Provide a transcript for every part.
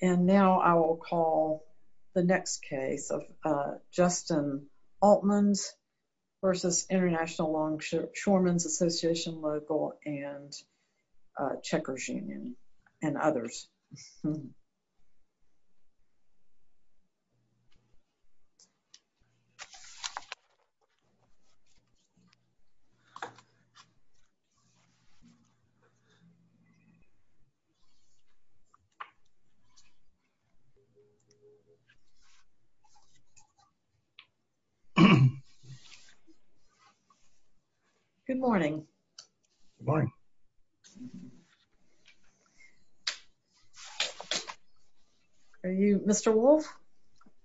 And now I will call the next case of Justin Oltmanns versus International Longshoremen's Association Local and Checkers Union and others. Good morning. Are you Mr. Wolfe?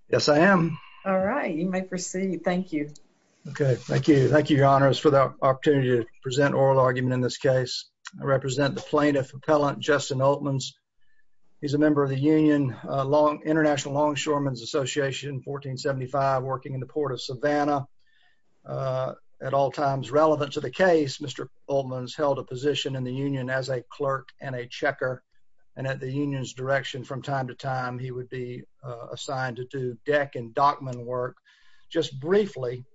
Yes, I am. All right, you may proceed. Thank you. Okay, thank you. Thank you, Your Honors, for the opportunity to present oral argument in this case. I represent the plaintiff, Appellant Justin Oltmanns. He's a member of the Union International Longshoremen's Association, 1475, working in the port of Savannah. At all times relevant to the case, Mr. Oltmanns held a position in the union as a clerk and a checker, and at the union's direction from time to time, he would be assigned to do deck and dockman work. Just briefly,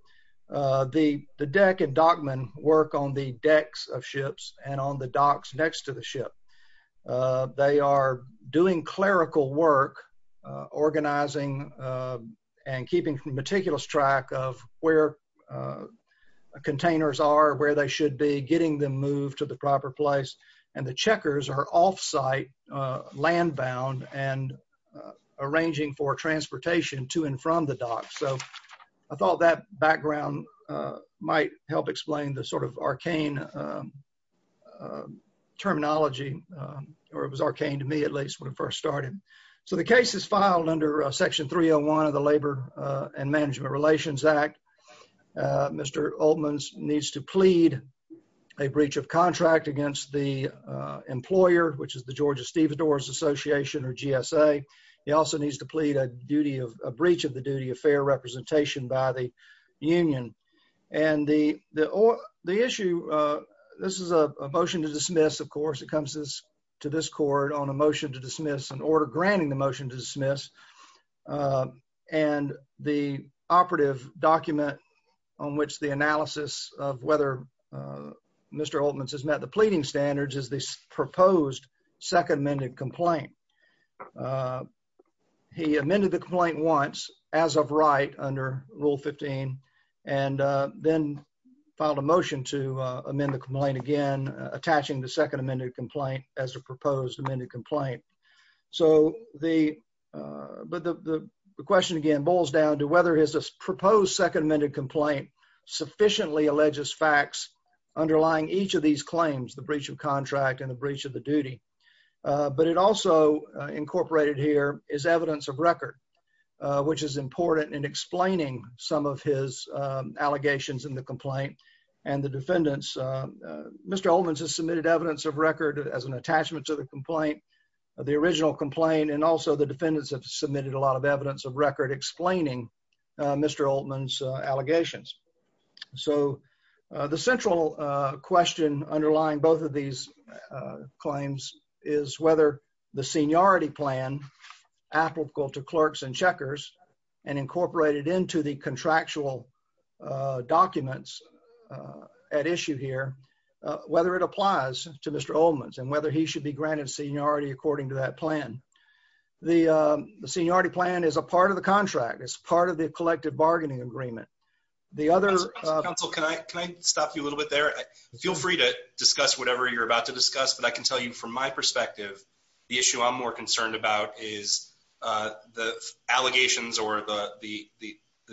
the deck and dockman work on the decks of ships and on the docks next to the ship. They are doing clerical work, organizing and keeping meticulous track of where containers are, where they should be, getting them moved to the proper place. And the checkers are off-site, land-bound, and arranging for transportation to and from the dock. So I thought that background might help explain the sort of arcane terminology, or it was arcane to me, at least, when it first started. So the case is filed under Section 301 of the Labor and Management Relations Act. Mr. Oltmanns needs to plead a breach of contract against the employer, which is the Georgia Stevedores Association, or GSA. He also needs to plead a duty of, a breach of the duty of fair representation by the union. And the issue, this is a motion to dismiss, of course, it comes to this court on a motion to dismiss, an order granting the motion to dismiss. And the operative document on which the analysis of whether Mr. Oltmanns has met the pleading standards is the proposed second amended complaint. He amended the complaint once, as of right, under Rule 15, and then filed a motion to amend the complaint again, attaching the second amended complaint as a proposed amended complaint. So the, but the question again boils down to whether his proposed second amended complaint sufficiently alleges facts underlying each of these claims, the breach of contract and the breach of the duty. But it also incorporated here is evidence of record, which is important in explaining some of his allegations in the complaint. And the defendants, Mr. Oltmanns has submitted evidence of record as an attachment to the complaint, the original complaint, and also the defendants have submitted a lot of evidence of record explaining Mr. Oltmanns allegations. So the central question underlying both of these claims is whether the seniority plan applicable to clerks and checkers and incorporated into the contractual documents at issue here, whether it applies to Mr. Oltmanns and whether he should be granted seniority according to that plan. The seniority plan is a part of the contract, it's part of the collective bargaining agreement. The other- Counsel, can I stop you a little bit there? Feel free to discuss whatever you're about to discuss, but I can tell you from my perspective, the issue I'm more concerned about is the allegations or the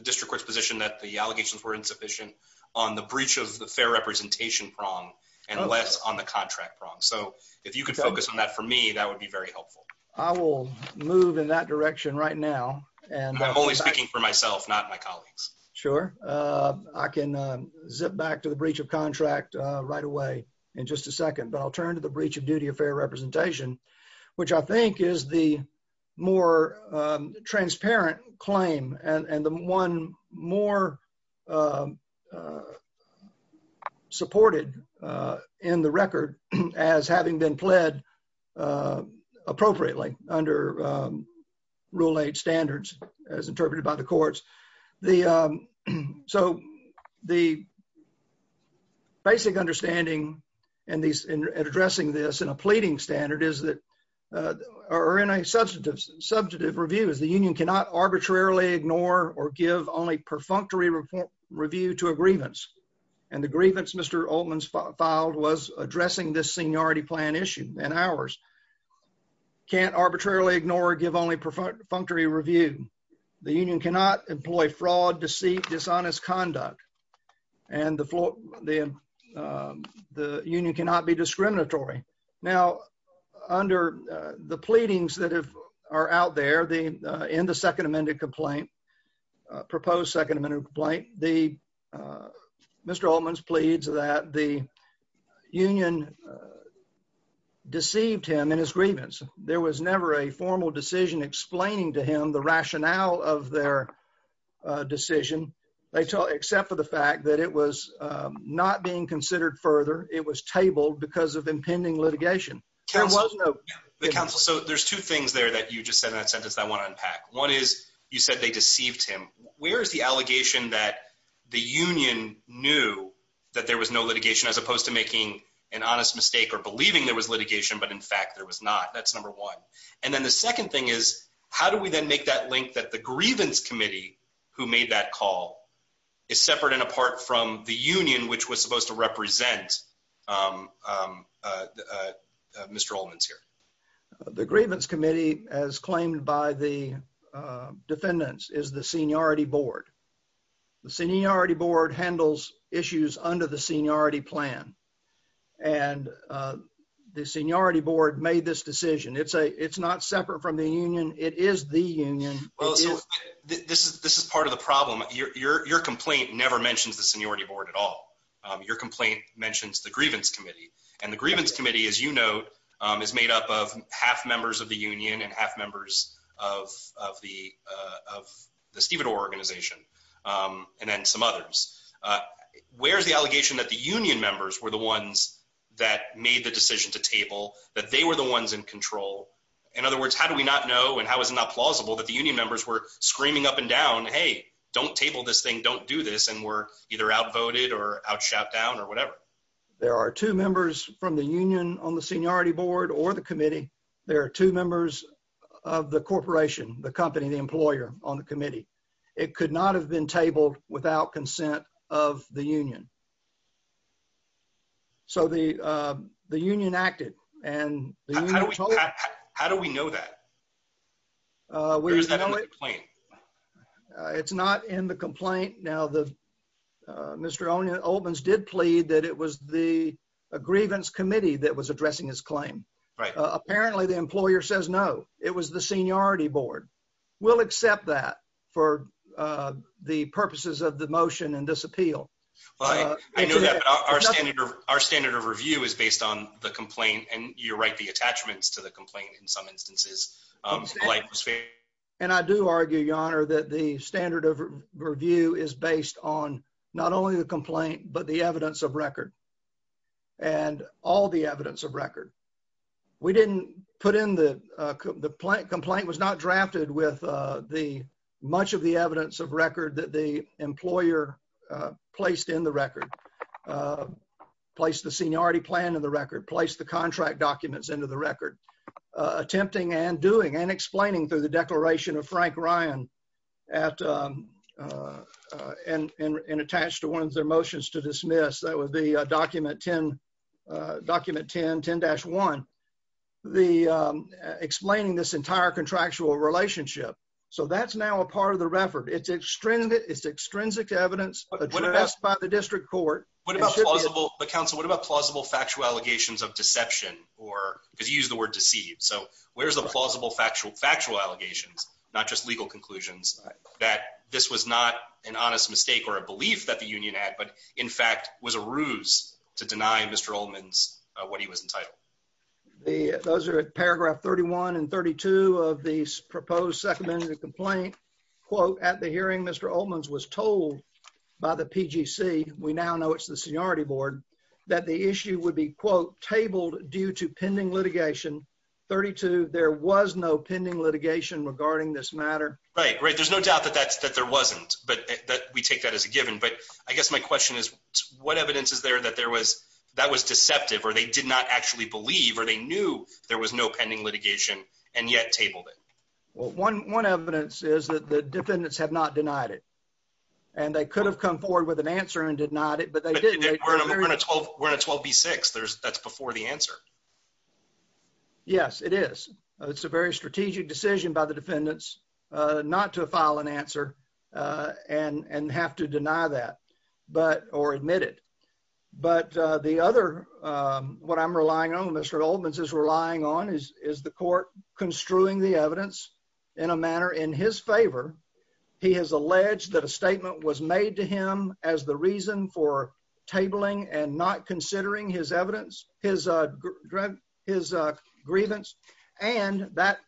district court's position that the allegations were insufficient on the breach of the fair representation prong and less on the contract prong. So if you could focus on that for me, that would be very helpful. I will move in that direction right now. I'm only speaking for myself, not my colleagues. Sure. I can zip back to the breach of contract right away in just a second, but I'll turn to the breach of duty of fair representation, which I think is the more transparent claim and the one more supported in the record as having been pled appropriately under rule eight standards as interpreted by the courts. So the basic understanding in addressing this in a pleading standard is that, or in a substantive review, is the union cannot arbitrarily ignore or give only perfunctory review to a grievance. And the grievance Mr. Oatman filed was addressing this seniority plan issue and ours. Can't arbitrarily ignore or give only perfunctory review. The union cannot employ fraud, deceit, dishonest conduct, and the union cannot be discriminatory. Now, under the pleadings that are out there, in the second amended complaint, proposed second amended complaint, Mr. Oatman's pleads that the union deceived him in his grievance. There was never a formal decision explaining to him the rationale of their decision, except for the fact that it was not being considered further. It was tabled because of impending litigation. There was no... The counsel. So there's two things there that you just said in that sentence that I want to unpack. One is you said they deceived him. Where is the allegation that the union knew that there was no litigation as opposed to making an honest mistake or believing there was litigation, but in fact there was not? That's number one. And then the second thing is, how do we then make that link that the grievance committee who made that call is separate and apart from the union, which was supposed to represent Mr. Oatman's here? The grievance committee, as claimed by the defendants, is the seniority board. The seniority board handles issues under the seniority plan. And the seniority board made this decision. It's not separate from the union. It is the union. This is part of the problem. Your complaint never mentions the seniority board at all. Your complaint mentions the grievance committee. And the grievance committee, as you note, is made up of half members of the union and half members of the Stephen Orr organization, and then some others. Where's the allegation that the union members were the ones that made the decision to table, that they were the ones in control? In other words, how do we not know, and how is it not plausible that the union members were screaming up and down, hey, don't table this thing, don't do this, and were either outvoted or outshouted down or whatever? There are two members from the union on the seniority board or the committee. There are two members of the corporation, the company, the employer on the committee. It could not have been tabled without consent of the union. So the union acted, and the union told us- How do we know that? Or is that in the complaint? It's not in the complaint. Now, Mr. Oldmans did plead that it was the grievance committee that was addressing his claim. Right. Apparently, the employer says no. It was the seniority board. We'll accept that for the purposes of the motion and this appeal. I know that, but our standard of review is based on the complaint, and you're right, the attachments to the complaint in some instances. And I do argue, Your Honor, that the standard of review is based on not only the complaint, but the evidence of record, and all the evidence of record. We didn't put in the complaint, the complaint was not drafted with much of the evidence of record that the employer placed in the record, placed the seniority plan in the record, placed the contract documents into the record, attempting and doing, and explaining through the declaration of Frank Ryan, and attached to one of their motions to dismiss, that would be document 10-1, explaining this entire contractual relationship. So that's now a part of the record. It's extrinsic evidence addressed by the district court. What about plausible, but counsel, what about plausible factual allegations of deception, or, because you used the word deceived, so where's the plausible factual allegations, not just legal conclusions, that this was not an honest mistake or a belief that the union had, but in fact, was a ruse to deny Mr. Ullman's, what he was entitled. Those are paragraph 31 and 32 of the proposed second amendment complaint, quote, at the hearing, Mr. Ullman's was told by the PGC, we now know it's the seniority board, that the issue would be, quote, tabled due to pending litigation. 32, there was no pending litigation regarding this matter. Right, right, there's no doubt that there wasn't, but we take that as a given. But I guess my question is, what evidence is there that that was deceptive, or they did not actually believe, or they knew there was no pending litigation, and yet tabled it? Well, one evidence is that the defendants have not denied it. And they could have come forward with an answer and denied it, but they didn't. We're in a 12B6, that's before the answer. Yes, it is. It's a very strategic decision by the defendants not to file an answer and have to deny that, but, or admit it. But the other, what I'm relying on, Mr. Ullman's is relying on, is the court construing the evidence in a manner in his favor. He has alleged that a statement was made to him as the reason for tabling and not considering his evidence, his grievance, and that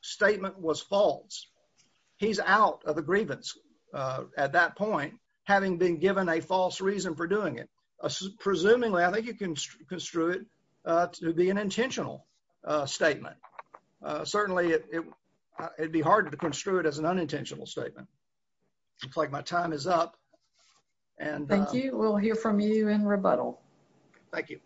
statement was false. He's out of the grievance at that point, having been given a false reason for doing it. Presumably, I think you can construe it to be an intentional statement. Certainly, it'd be hard to construe it as an unintentional statement. Looks like my time is up, and- Thank you, we'll hear from you in rebuttal. Thank you.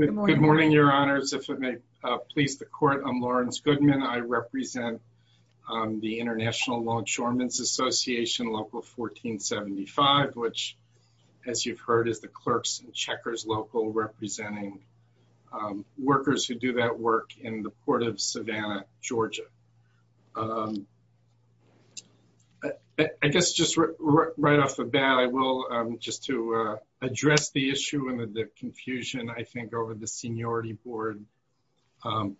Good morning, your honors. If it may please the court, I'm Lawrence Goodman. I represent the International Law Insurance Association, Local 1475, which, as you've heard, is the clerks and checkers local, representing workers who do that work in the Port of Savannah, Georgia. I guess just right off the bat, I will, just to address the issue and the confusion, I think, over the seniority board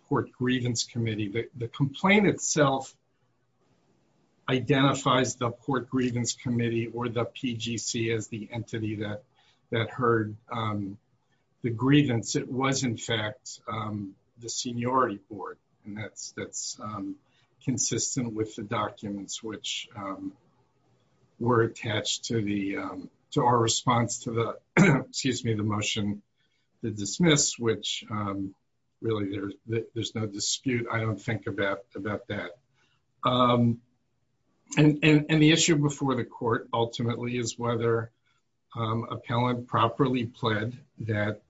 court grievance committee. The complaint itself identifies the court grievance committee or the PGC as the entity that heard the grievance. It was, in fact, the seniority board, and that's consistent with the documents, which were attached to our response to the, excuse me, the motion to dismiss, which really, there's no dispute. I don't think about that. And the issue before the court, ultimately, is whether an appellant properly pled that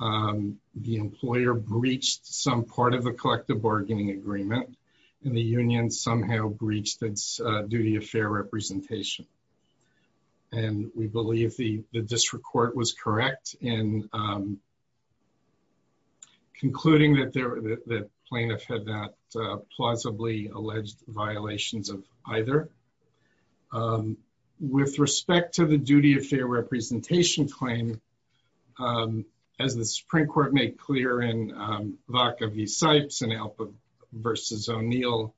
the employer breached some part of the collective bargaining agreement, and the union somehow breached its duty of fair representation. And we believe the district court was correct in concluding that the plaintiff had not plausibly alleged violations of either. With respect to the duty of fair representation claim, as the Supreme Court made clear in Vaca v. Sipes and Alba v. O'Neill,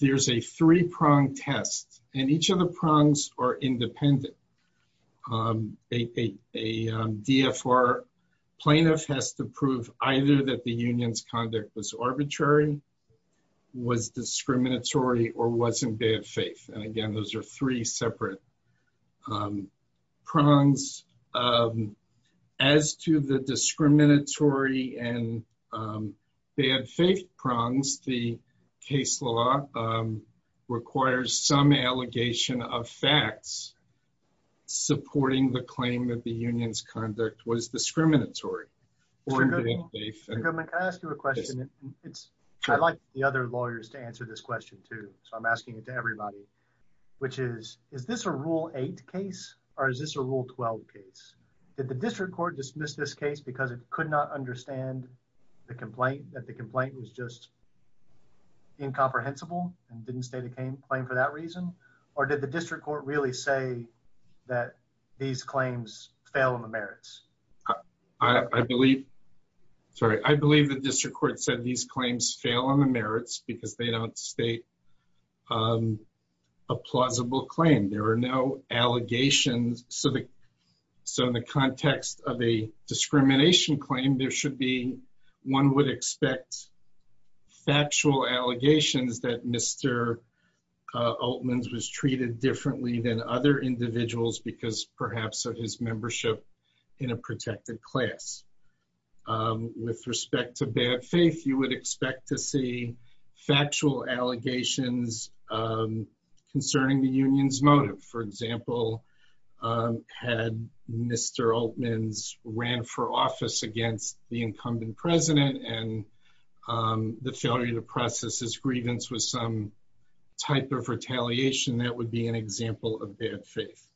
there's a three-pronged test, and each of the prongs are independent. A DFR plaintiff has to prove either that the union's conduct was arbitrary, was discriminatory, or wasn't bad faith. And again, those are three separate prongs. As to the discriminatory and bad faith prongs, the case law requires some allegation of facts supporting the claim that the union's conduct was discriminatory. Mr. Goodman, can I ask you a question? I'd like the other lawyers to answer this question too, so I'm asking it to everybody. Which is, is this a Rule 8 case, or is this a Rule 12 case? Did the district court dismiss this case because it could not understand the complaint, that the complaint was just incomprehensible and didn't state a claim for that reason? Or did the district court really say that these claims fail in the merits? I believe, sorry, I believe the district court said these claims fail on the merits because they don't state a plausible claim. There are no allegations, so in the context of a discrimination claim, there should be, one would expect, factual allegations that Mr. Oatmans was treated differently than other individuals because, perhaps, of his membership in a protected class. With respect to bad faith, you would expect to see factual allegations concerning the union's motive. For example, had Mr. Oatmans ran for office against the incumbent president, and the failure to process his grievance with some type of retaliation, that would be an example of bad faith.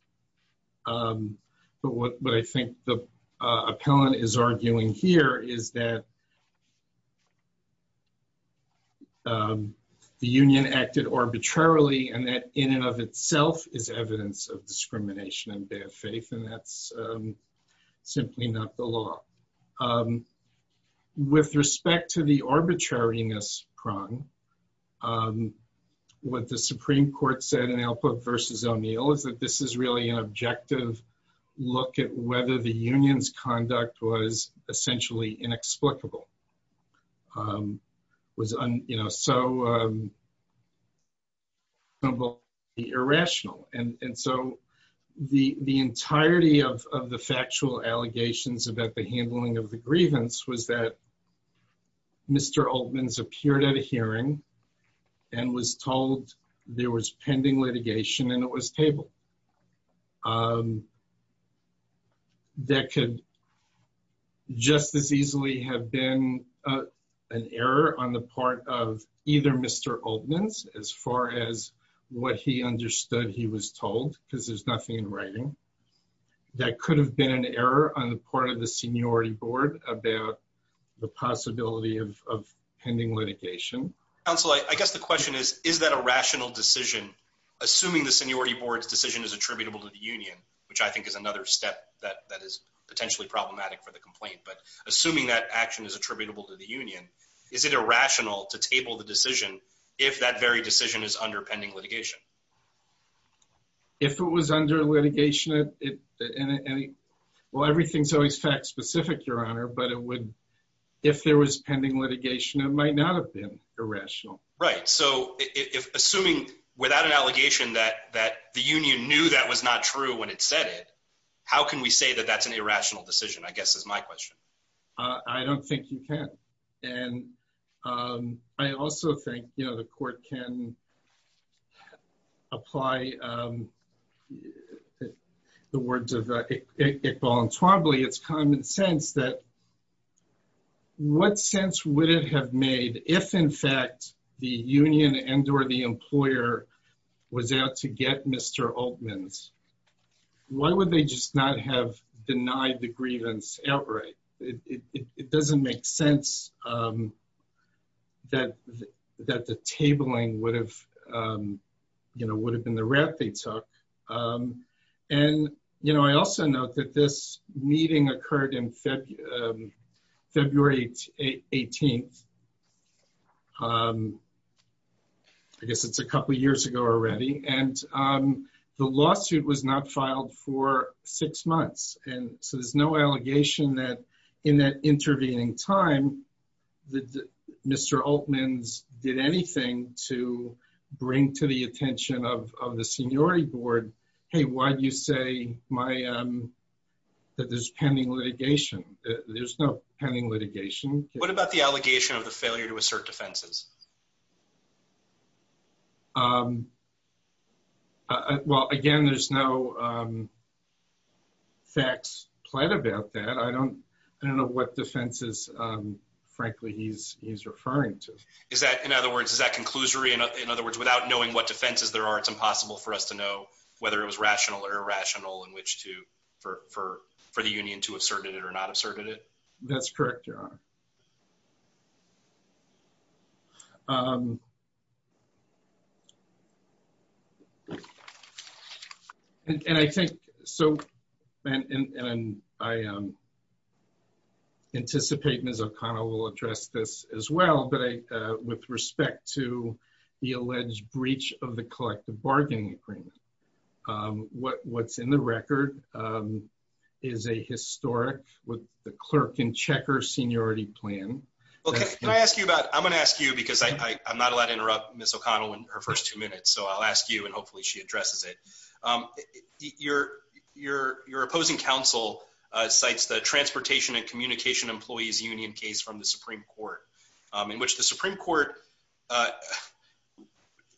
But what I think the appellant is arguing here is that the union acted arbitrarily, and that, in and of itself, is evidence of discrimination and bad faith, and that's simply not the law. With respect to the arbitrariness prong, what the Supreme Court said in Alpert v. O'Neill is that this is really an objective look at whether the union's conduct was essentially inexplicable. It was so irrational, and so the entirety of the factual allegations about the handling of the grievance was that Mr. Oatmans appeared at a hearing and was told there was pending litigation, and it was tabled. That could just as easily have been an error on the part of either Mr. Oatmans, as far as what he understood he was told, because there's nothing in writing. That could have been an error on the part of the seniority board about the possibility of pending litigation. Counsel, I guess the question is, is that a rational decision, assuming the seniority board's decision is attributable to the union, which I think is another step that is potentially problematic for the complaint, but assuming that action is attributable to the union, is it irrational to table the decision if that very decision is under pending litigation? If it was under litigation, well, everything's always fact-specific, Your Honor, but if there was pending litigation, it might not have been. Right, so assuming without an allegation that the union knew that was not true when it said it, how can we say that that's an irrational decision, I guess, is my question. I don't think you can. And I also think the court can apply the words of Iqbal and Twombly, it's common sense that what sense would it have made if, in fact, the union and or the employer was out to get Mr. Altman's? Why would they just not have denied the grievance outright? It doesn't make sense that the tabling would have been the route they took. And, you know, I also note that this meeting occurred in February 18th. I guess it's a couple of years ago already. And the lawsuit was not filed for six months. And so there's no allegation that in that intervening time that Mr. Altman's did anything to bring to the attention of the seniority board. Hey, why do you say that there's pending litigation? There's no pending litigation. What about the allegation of the failure to assert defenses? Well, again, there's no facts plan about that. I don't know what defenses, frankly, he's referring to. Is that, in other words, is that conclusory? In other words, without knowing what defenses there are, it's impossible for us to know whether it was rational or irrational in which to, for the union to have asserted it or not asserted it? That's correct, Your Honor. And I think, so, and I anticipate Ms. O'Connor will address this as well, but I, with respect to the alleged breach of the collective bargaining agreement. What, what's in the record is a historic, with the clerk in checker seniority plan. Okay, can I ask you about, I'm gonna ask you because I, I, I'm not allowed to interrupt Ms. O'Connor in her first two minutes. So I'll ask you and hopefully she addresses it. Your, your, your opposing counsel cites the transportation and communication employees union case from the Supreme Court. In which the Supreme Court,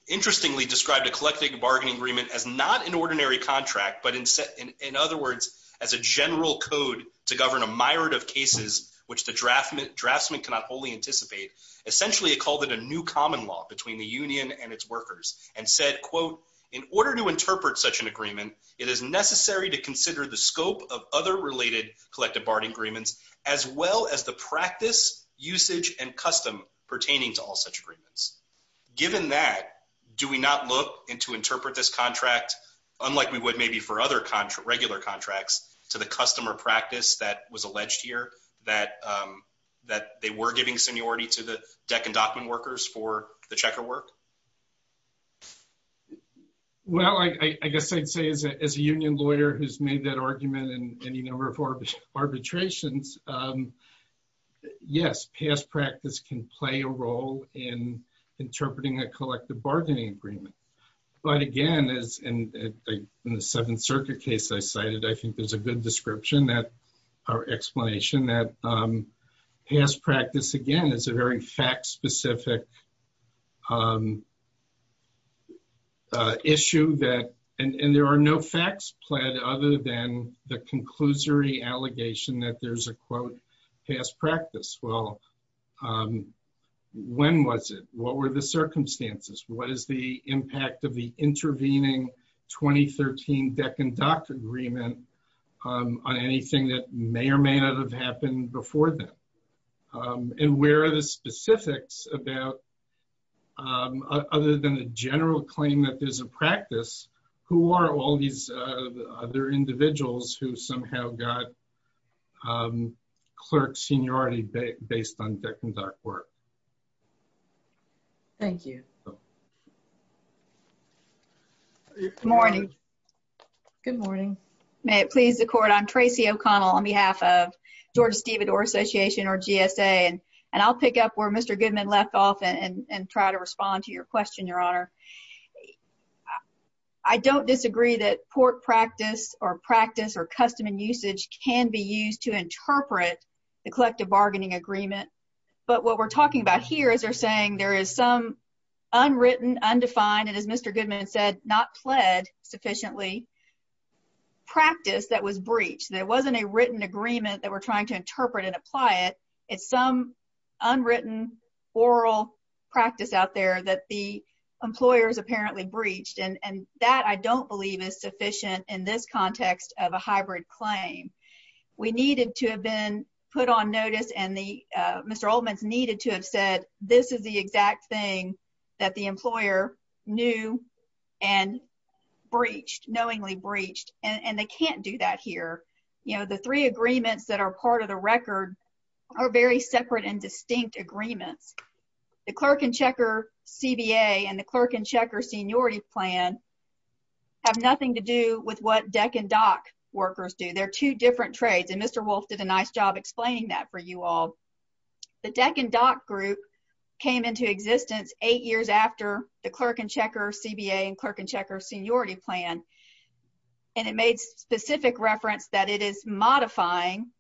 interestingly described a collective bargaining agreement as not an ordinary contract, but in set, in, in other words, as a general code to govern a myriad of cases which the draft, draftsman cannot wholly anticipate. Essentially, it called it a new common law between the union and its workers. And said, quote, in order to interpret such an agreement, it is necessary to consider the scope of other related collective bargaining agreements, as well as the practice, usage, and custom pertaining to all such agreements. Given that, do we not look into interpret this contract, unlike we would maybe for other contra, regular contracts, to the customer practice that was alleged here, that that they were giving seniority to the deck and dockman workers for the checker work? Well, I, I, I guess I'd say as a, as a union lawyer who's made that argument in any number of arbitrations yes, past practice can play a role in interpreting a collective bargaining agreement. But again, as in, in, in the Seventh Circuit case I cited, I think there's a good description that, or explanation that past practice, again, is a very fact specific issue that, and, and there are no facts pled other than the conclusory allegation that there's a, quote, past practice. Well, when was it? What were the circumstances? What is the impact of the intervening 2013 deck and dock agreement on anything that may or may not have happened before then? And where are the specifics about, other than the general claim that there's a practice, who are all these other individuals who somehow got clerk seniority based on deck and dock work? Thank you. Good morning. Good morning. May it please the court, I'm Tracy O'Connell on behalf of Georgia Stevedore Association or GSA and, and I'll pick up where Mr. Goodman left off and, and try to respond to your question, your honor. I don't disagree that court practice or practice or custom and usage can be used to interpret the collective bargaining agreement. But what we're talking about here is they're saying there is some unwritten, undefined, and as Mr. Goodman said, not pled sufficiently, practice that was breached. There wasn't a written agreement that we're trying to interpret and apply it. It's some unwritten oral practice out there that the employers apparently breached. And, and that I don't believe is sufficient in this context of a hybrid claim. We needed to have been put on notice and the Mr. Oldman's needed to have said, this is the exact thing that the employer knew and breached, knowingly breached, and, and they can't do that here. You know, the three agreements that are part of the record are very separate and distinct agreements. The clerk and checker CBA and the clerk and checker seniority plan have nothing to do with what deck and dock workers do. They're two different trades. And Mr. Wolf did a nice job explaining that for you all. The deck and dock group came into existence eight years after the clerk and checker CBA and clerk and checker seniority plan. And it made specific reference that it is modifying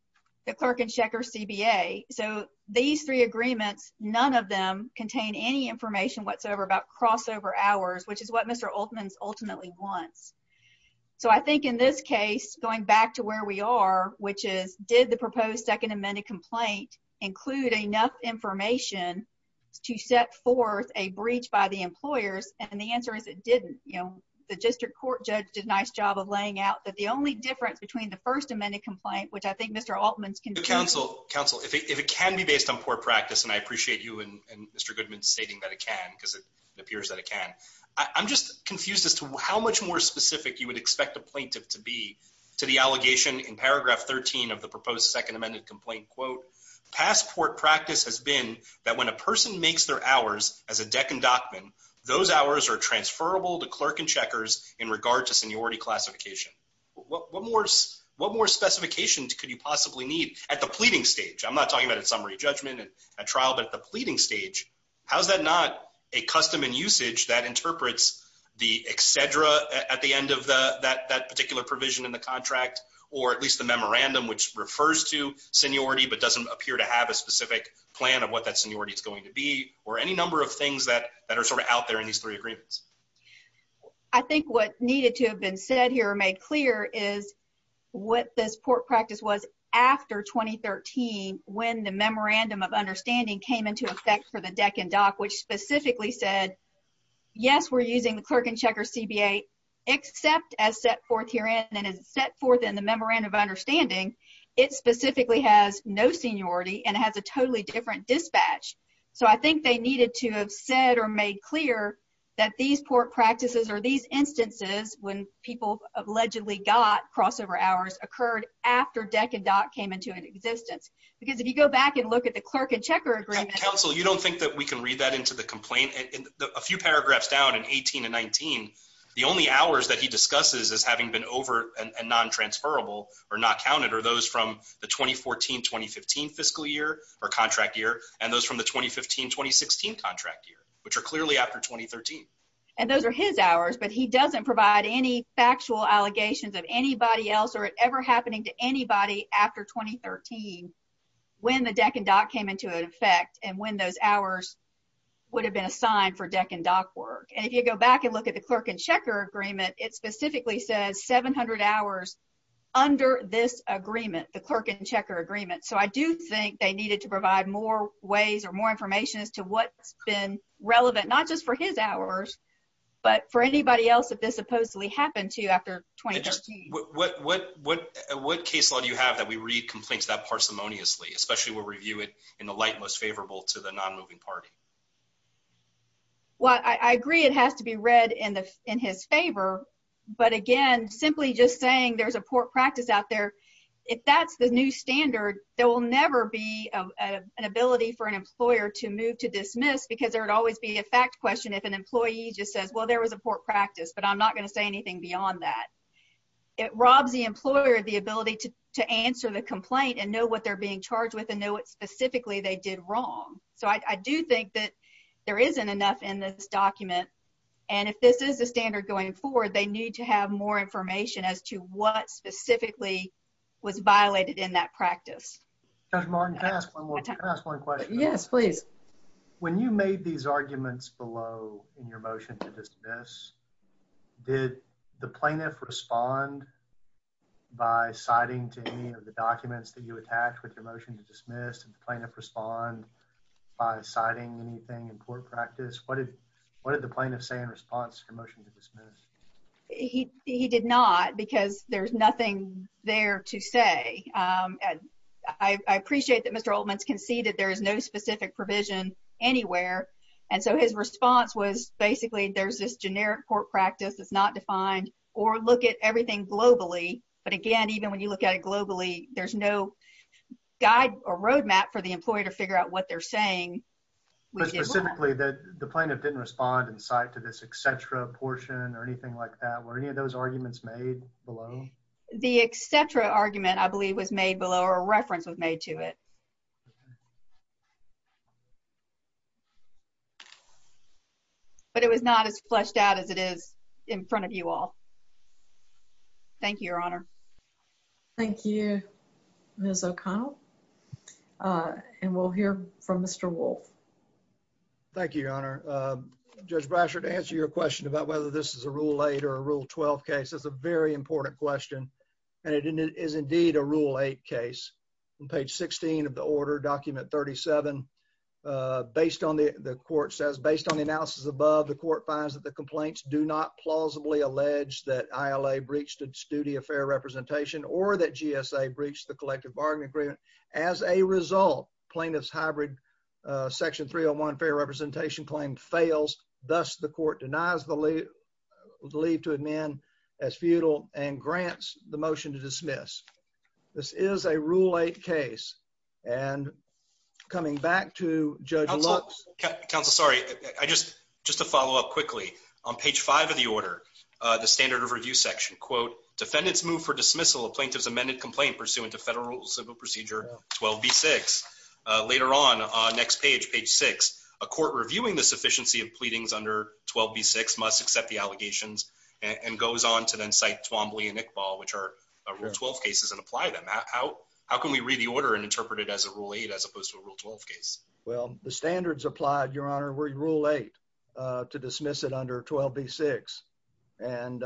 the clerk and checker CBA. So these three agreements, none of them contain any information whatsoever about crossover hours, which is what Mr. Oldman's ultimately wants. So I think in this case, going back to where we are, which is did the proposed second amendment complaint include enough information to set forth a breach by the employers? And the answer is it didn't, you know, the district court judge did a nice job of laying out that the only difference between the first amendment complaint, which I think Mr. Altman's can counsel, counsel, if it can be based on poor practice, and I appreciate you and Mr. Goodman stating that it can because it appears that it can. I'm just confused as to how much more specific you would expect a plaintiff to be to the allegation in paragraph 13 of the proposed second amended complaint. Quote, passport practice has been that when a person makes their hours as a deck and dockman, those hours are transferable to clerk and checkers in regard to seniority classification. What more specifications could you possibly need at the pleading stage? I'm not talking about a summary judgment and a trial, but the pleading stage. How's that not a custom and usage that interprets the etc at the end of that particular provision in the contract, or at least the memorandum, which refers to seniority but doesn't appear to have a specific plan of what that seniority is going to be, or any number of things that are sort of out there in these three agreements? I think what needed to have been said here or made clear is what this court practice was after 2013 when the memorandum of understanding came into effect for the deck and dock, which specifically said, yes, we're using the clerk and checker CBA, except as set forth herein and as set forth in the memorandum of understanding, it specifically has no seniority and it has a totally different dispatch. So I think they needed to have said or made clear that these court practices or these instances when people allegedly got crossover hours occurred after deck and dock came into existence. Because if you go back and look at the clerk and checker agreement- Counsel, you don't think that we can read that into the complaint? In a few paragraphs down in 18 and 19, the only hours that he discusses as having been over and non-transferable or not counted are those from the 2014-2015 fiscal year or contract year, and those from the 2015-2016 contract year, which are clearly after 2013. And those are his hours, but he doesn't provide any factual allegations of anybody else or it ever happening to anybody after 2013 when the deck and dock came into effect and when those hours would have been assigned for deck and dock work. And if you go back and look at the clerk and checker agreement, it specifically says 700 hours under this agreement, the clerk and checker agreement. So I do think they needed to provide more ways or more information as to what's been relevant, not just for his hours, but for anybody else that this supposedly happened to after 2013. What case law do you have that we read complaints that parsimoniously, especially we'll review it in the light most favorable to the non-moving party? Well, I agree it has to be read in his favor. But again, simply just saying there's a poor practice out there. If that's the new standard, there will never be an ability for an employer to move to dismiss because there would always be a fact question if an employee just says, well, there was a poor practice, but I'm not going to say anything beyond that. It robs the employer of the ability to answer the complaint and know what they're being charged with and know what specifically they did wrong. So I do think that there isn't enough in this document. And if this is the standard going forward, they need to have more information as to what specifically was violated in that practice. Judge Martin, can I ask one more question? Yes, please. When you made these arguments below in your motion to dismiss, did the plaintiff respond by citing to any of the documents that you attached with your motion to dismiss? Did the plaintiff respond by citing anything in poor practice? What did the plaintiff say in response to your motion to dismiss? He did not because there's nothing there to say. I appreciate that Mr. Oltman's conceded there is no specific provision anywhere. And so his response was basically there's this generic court practice that's not defined or look at everything globally. But again, even when you look at it globally, there's no guide or roadmap for the employee to figure out what they're saying. But specifically that the plaintiff didn't respond and cite to this etc portion or anything like that. Were any of those arguments made below? The etc argument I believe was made below or a reference was made to it. But it was not as fleshed out as it is in front of you all. Thank you, Your Honor. Thank you, Ms. O'Connell. And we'll hear from Mr. Wolfe. Thank you, Your Honor. Judge Brasher, to answer your question about whether this is a rule eight or rule 12 case, that's a very important question. And it is indeed a rule eight case. On page 16 of the order, document 37, based on the court says, based on the analysis above, the court finds that the complaints do not plausibly allege that ILA breached its duty of fair representation or that GSA breached the collective bargaining agreement. As a result, plaintiff's hybrid section 301 fair representation claim fails. Thus, the court denies the leave to amend as futile and grants the motion to dismiss. This is a rule eight case. And coming back to Judge Lux. Counsel, sorry, just to follow up quickly. On page five of the order, the standard of review section, quote, defendants move for dismissal of plaintiff's amended complaint pursuant to federal civil procedure 12B6. Later on, next page, page six, a court reviewing the sufficiency of pleadings under 12B6 must accept the allegations and goes on to then cite Twombly and Iqbal, which are rule 12 cases, and apply them. How can we read the order and interpret it as a rule eight as opposed to a rule 12 case? Well, the standards applied, Your Honor, were rule eight to dismiss it under 12B6. And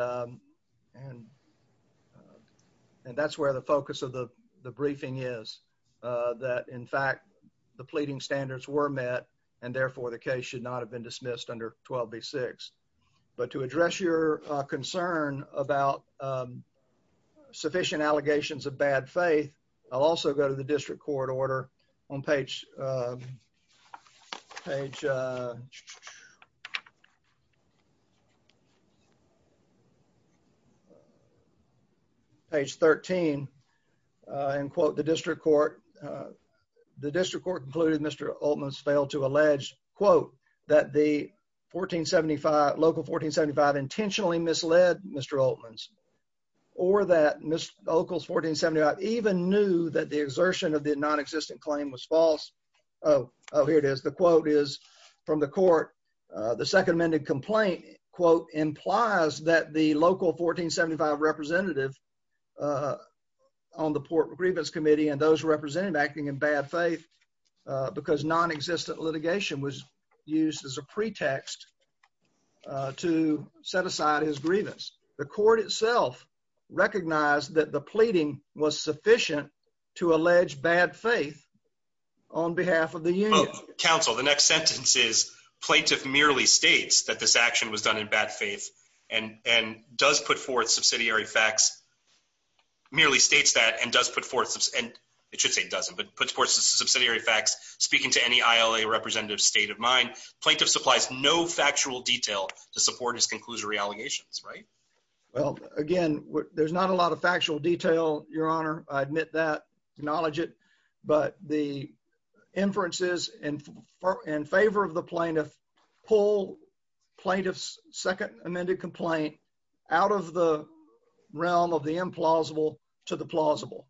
that's where the focus of the briefing is. That, in fact, the pleading standards were met, and therefore, the case should not have been dismissed under 12B6. But to address your concern about sufficient allegations of bad faith, I'll also go to the district court order on page, page, page 13, and quote, the district court. The district court concluded Mr. Oatman's failed to allege, quote, that the 1475, local 1475 intentionally misled Mr. Oatman's. Or that Mr. Oatman's 1475 even knew that the exertion of the non-existent claim was false. Oh, here it is. The quote is from the court. The second amended complaint, quote, implies that the local 1475 representative on the Port Grievance Committee and those represented acting in bad faith, because non-existent litigation was used as a pretext to set aside his grievance. The court itself recognized that the pleading was sufficient to allege bad faith on behalf of the union. Counsel, the next sentence is plaintiff merely states that this action was done in bad faith and does put forth subsidiary facts, merely states that, and does put forth, and it should say doesn't, but puts forth subsidiary facts speaking to any ILA representative's state of mind. Plaintiff supplies no factual detail to support his conclusory allegations, right? Well, again, there's not a lot of factual detail, Your Honor. I admit that, acknowledge it, but the inferences in favor of the plaintiff pull plaintiff's second amended complaint out of the realm of the implausible to the plausible.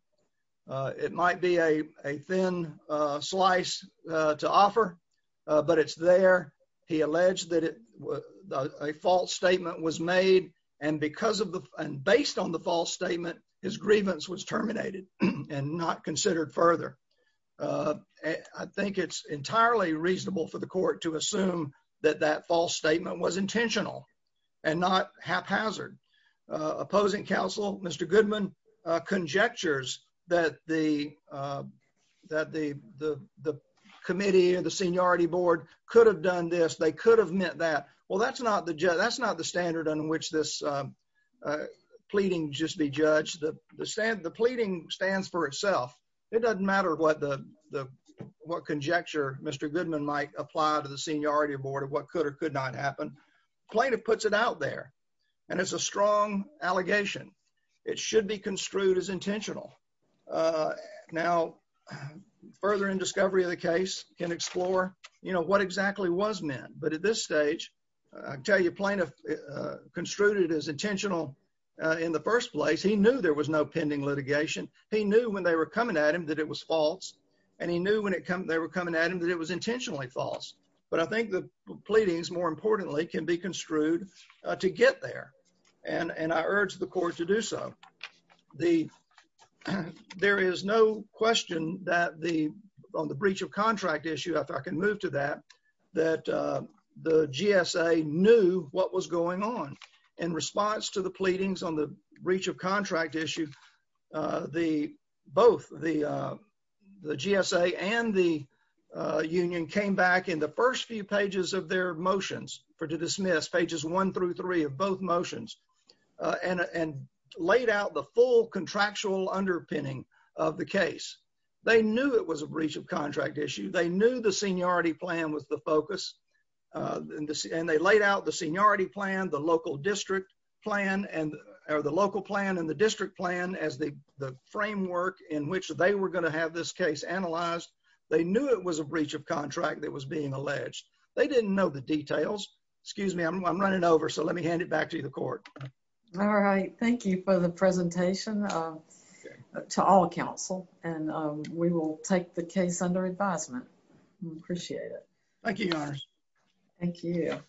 It might be a thin slice to offer, but it's there. He alleged that a false statement was made, and based on the false statement, his grievance was terminated and not considered further. I think it's entirely reasonable for the court to assume that that false statement was intentional and not haphazard. Opposing counsel, Mr. Goodman, conjectures that the committee or the seniority board could have done this, they could have meant that. Well, that's not the standard on which this pleading just be judged. The pleading stands for itself. It doesn't matter what conjecture Mr. Goodman might apply to the seniority board of what could or could not happen. Plaintiff puts it out there, and it's a strong allegation. It should be construed as intentional. Now, further in discovery of the case, can explore what exactly was meant. But at this stage, I can tell you plaintiff construed it as intentional. In the first place, he knew there was no pending litigation. He knew when they were coming at him that it was false. And he knew when they were coming at him that it was intentionally false. But I think the pleadings, more importantly, can be construed to get there. And I urge the court to do so. There is no question that on the breach of contract issue, if I can move to that, that the GSA knew what was going on. In response to the pleadings on the breach of contract issue, both the GSA and the union came back in the first few pages of their motions, for to dismiss, pages one through three of both motions, and laid out the full contractual underpinning of the case. They knew it was a breach of contract issue. They knew the seniority plan was the focus. And they laid out the seniority plan, the local district plan, and the local plan and the district plan as the framework in which they were going to have this case analyzed. They knew it was a breach of contract that was being alleged. They didn't know the details. Excuse me, I'm running over, so let me hand it back to the court. All right, thank you for the presentation to all counsel. And we will take the case under advisement. We appreciate it. Thank you, Your Honor. Thank you.